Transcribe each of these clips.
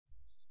Page 2 of 2 ¶ Accordingly, the treaty believing prior to the UTA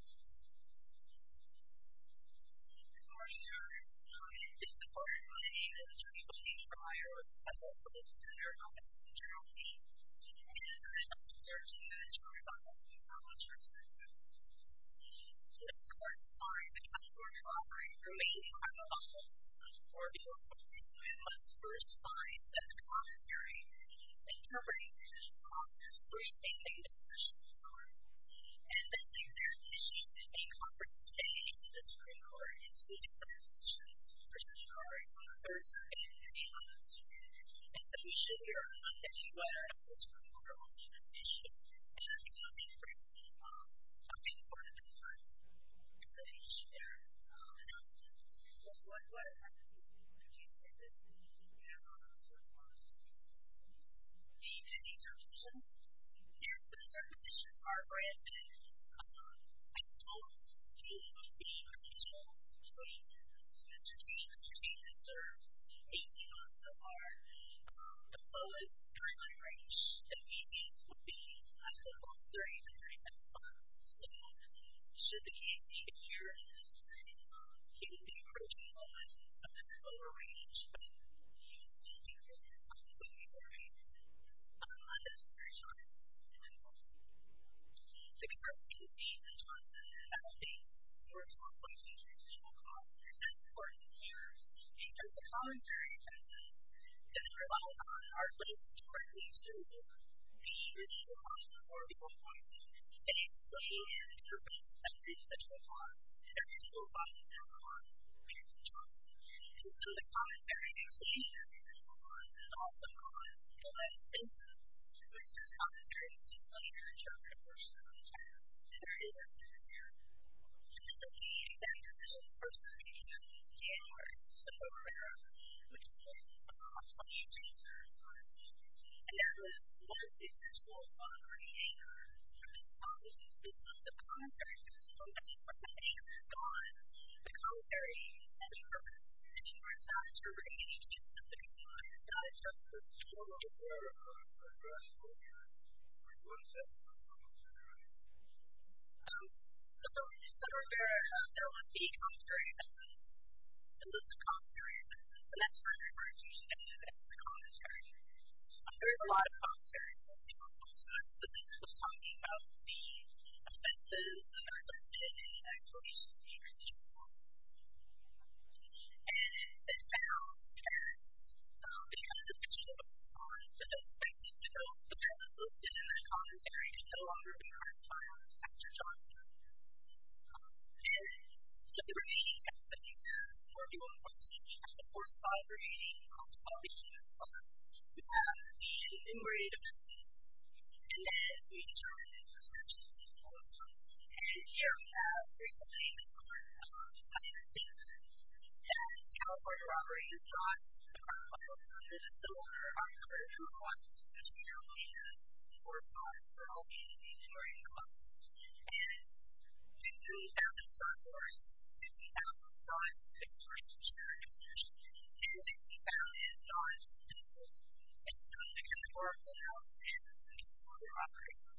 kilometermedicine hictory became enacted on November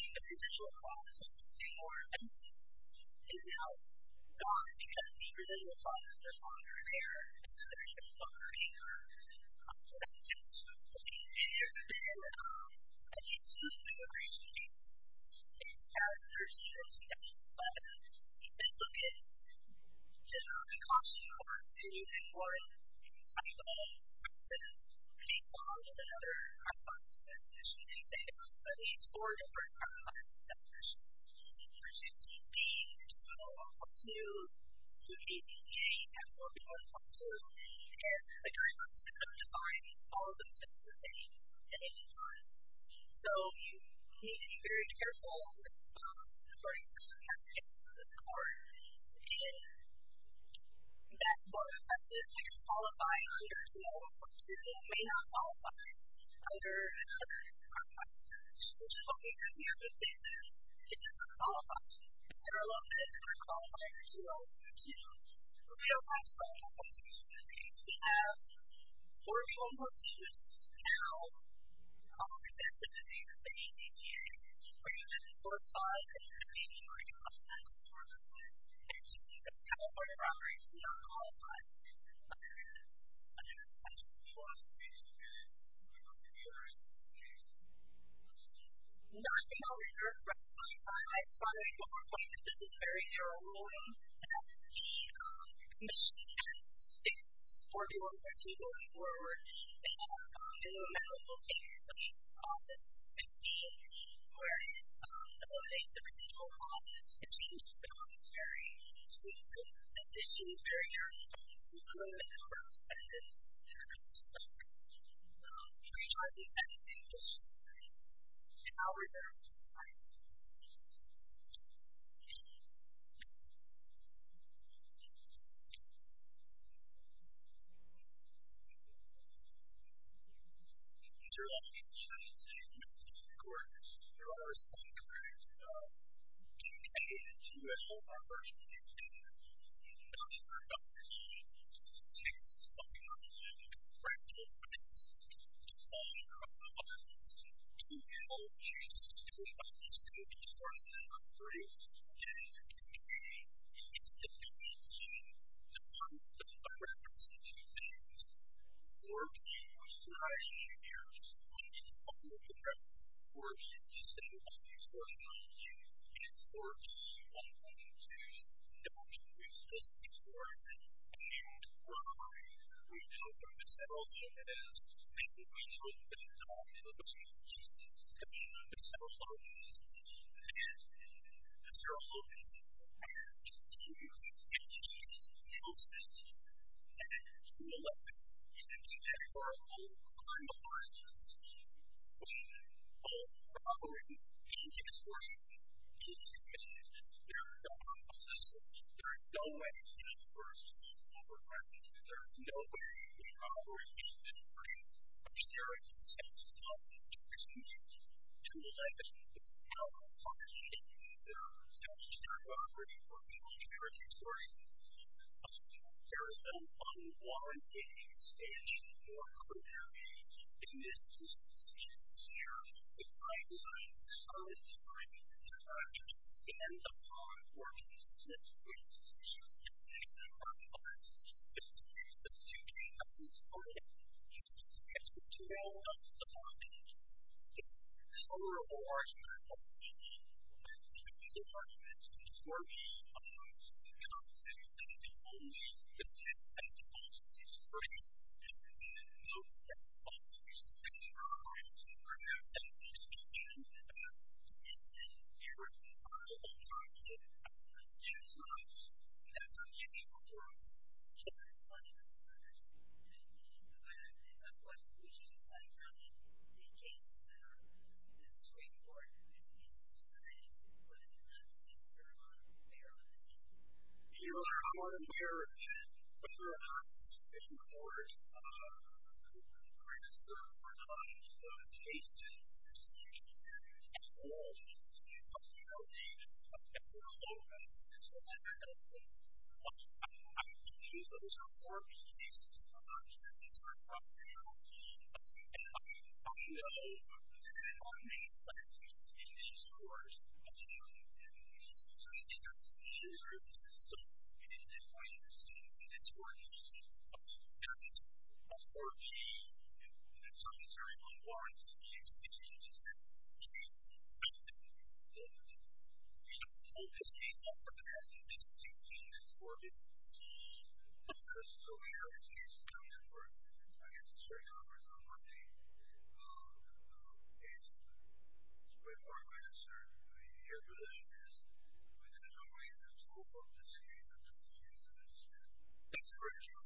20, 19 pattern down to 29 times. Now we are moving to the final part, now let me turn my page back again which is page 2. I beg you that you know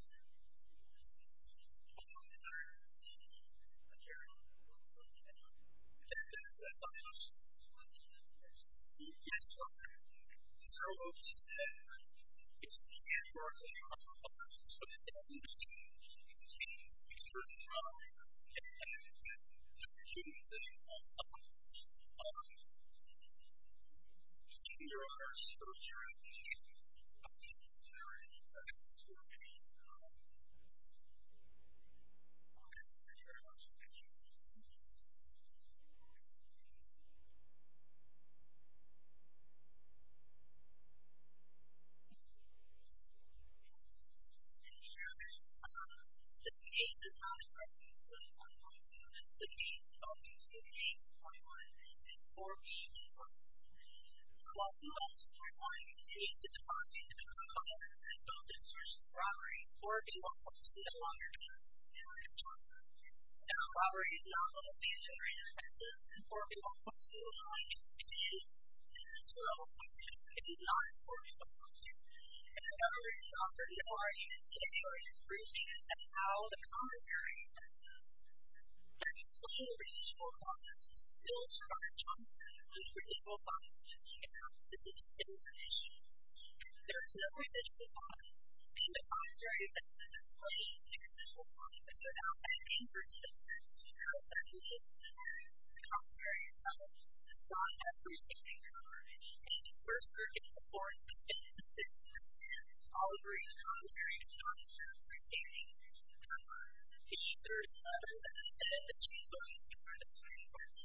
that I've been entirely part-time working with Brazil on boats so please correct me if I'm speaking in a wrong tone. I know there's apps that I'm all aren do I believe especially if you have Dolphin I'm being part-time to finish their announcement, so what I have to do is I'm going to do this and then I'm going to answer the questions. The Indy circumstitions, here's the circumstitions, our brand name, I told you it would be a beautiful train, Mr. T, Mr. T has served 18 months so far, the lowest trimline range in Indy would height of Los Lourdes and very kind phones, so should they ever see a good year, they would be approaching one of that lower range. Most teams that go in circumstitions are either on the Missouri short or ONL. There's no harm in being the top son in the United States or at all points in this transnational Conflict but that's important here because the commentary across us does and that was one of the initial creators of this policy was the commentary. So many of us have done the commentary at work. Many of us got it through reading the newspaper, many of us got it through the Journal of the World of War Crimes. So there are a few commentary events, a list of commentary events, and that's what I refer to as the commentary. There is a lot of commentary that people post us, but this was talking about the offensives that are committed in the United States in the interstitial conflict. And it found that if you have a distinction of a son in the Middle East, you know that that was listed in the commentary and no longer would be hard to find after John's death. And so the remaining text that we have for people to post, and of course the remaining cross-pollination of sons, we have the enumerated offensives, and then we turn it into a sentence. And here we have three complaints from the United States that California robberies brought the criminal justice system order on a number of human rights issues. And here we have four sons that are all being enumerated amongst us. And we do have in front of us 50,000 sons experiencing human rights abuse, and 60,000 sons in the Middle East. And so it's important to have a sense of the importance of the human rights issues here in California. local author. So, having a son in the interstitial area and waves a response. It's an enumerated positive. And we do know that this happens a day or two before the enforcement institute creates violence. Let's talk about the salary curve. The salary figure that we're covering is the unit of force portion of the unit. Right? Okay. So, let me tell you about some of the interesting things that the United States has come out with. First, now we're continuing to raise wages. I mean, we're starting to raise more money, which we'll get to that in a few years. And it's not the end of October. It's the end of September. There are several different species of foxes. There are fish that are a little bit of a beach. There are swallow foxes. And we should not have any questions about the swallow foxes. I mean, they're in an interstitial area. Well, the swallow foxes, it's dead. It's dead. It's used for hunting. It's not used for hunting. It's not used for killing foxes. And the swallow foxes are exploratory. It's an artificial beast. It's an exploratory species. It's a lot more enumerated, I think, than any other species of swallow fox. So, that swallow fox is very, very complex. It's 12.6 tons. And it's an artificial swallow fox. So, the swallow fox is dead. And the rest of the swallow foxes are incognito. So, we are an exploratory species. And there's a commentary. So, we will talk about that. The residual fox is now gone because the residual foxes are no longer there. And so, there's no longer any sort of confidence in swallow foxes. They're dead. And it's used for immigration. It's characteristic of swallows. But, if you look at the cost of swallows, they're used in more of a type of process, based on a number of other artifacts. And I should say there are at least four different artifacts that are used. There's 16B. There's swallow 1.2. There's APCA. There's pet swallow 1.2. And the jury wants to come to find all of the swallows that are dead in any forest. So, you need to be very careful, as far as the characteristics of the score, if that's more impressive. They can qualify under swallow 1.2. They may not qualify under other artifacts, which is what we have here. But this is, it doesn't qualify. There are a lot of things that are qualified for swallow 1.2. We don't have swallow 1.2. We have four form-perfumes. Now, this is APCA. We're using force 5. We're using APCA. We're using force 5. And you can see that's kind of what it operates in on the whole time. But there's a bunch of nuances to this. We want to be very specific. Now, I think I'll reserve the rest of my time. I saw that you were pointing to this very narrow room. That's the machine that is working on this, and going forward. It has a minimum amount of locators. I mean, it's an office. It's big. Where it eliminates everything that goes on. It seems very specific. It seems very narrow. So, I'm going to go ahead and wrap this up. I'm going to try to do everything that she's saying. And I'll reserve my time. It's the kind of thing that I've done by reference to two things. 4G, which is what I engineer, when it comes to looking at references to 4G, it's just a lot of extortion on you. And it's 4G 1.2's not useless extortion. And we're hiring. We've been looking at several of them, as maybe we know a little bit about in the discussion, but several of them exist. And several of these exist, and we are continuing to engage in those things. And 2.11 is an example of all the kind of arguments when both borrowing and extortion is made. They're not possible. There is no way in the universe that we're going to do it. There is no way in the borrowing industry, which there exists, to allow extortion. 2.11 is how we're finding if there's any kind of extortion. There is an unwarranted expansion or a primary in this instance. And it's here. The guidelines are in time, and the targets stand upon are consistent with the definition of our requirements. If we use the 2.11 protocol, if we use the 2.11 protocol, it's tolerable argument, but we need to make clear arguments before we come to anything. And only the good sets of policies, and only the good sets of policies that we need are our requirements. And we're not going to be speaking in the sense that we were talking about in the last two slides. That's what we need to do for us. I have a question, which is, how do you make cases that are not in the Supreme Court and make cases that are not in the Supreme Court and put them in an absentee server where they're not exempted? You have our requirement that whatever happens in court, we're going to serve our client in those cases as an agency. And we're going to continue to help you those cases. That's what we're doing, and that's what we're doing. I'm confused. Those are 4B cases. Those are not in the Supreme Court. And I know that there are many places in these courts, and these are users. So, in my understanding, it's 4B, but there is a 4B, and that's something that's very unwarranted. We've seen it, and that's the case. I don't think we can hold this case up for that. This is 2B, and this is 4B. So, we have a case coming up for a necessary conference on Monday, and we're going to serve the individual users within a number of years. There's a whole bunch of cases that are going to be used in this case. Thanks for your time. Thank you. Any other questions? I'm sorry. We're out of time. We're out of time. I have a question. I have a question. Yes. I'm sorry. So, what you said, it's a 24-hour conference, but it doesn't change the user's power and the opportunities that it offers. So, your honor, so if you're in the audience and there are any questions for me, I would like to know if there are any participants who have participated in the commentary and have not yet participated in the conference, and if you're a service employee and have participated in the conference, I'll agree with the commentary and have not yet participated in the conference. If either of you have participated, please don't hesitate for the 24-hour conference, and I believe one of the minutes will be the reference story for me. If the users are seeing a robbery and have not yet participated in the conference, please do not hesitate. And so, we have this part. By that age, 4 to 1, there's a commentary that does not preclude that you can participate in the conference, and therefore, I would like to follow up with two key resources that I already spoke about before we move on to the next part. And so, I don't worry if I already talked in terms of new providers or institutions, and use this part to engage in a 24-hour conference or a 24-hour conference. The only reason that you are allowed to participate in this is for other reasons, and that's fine. All right. Thank you.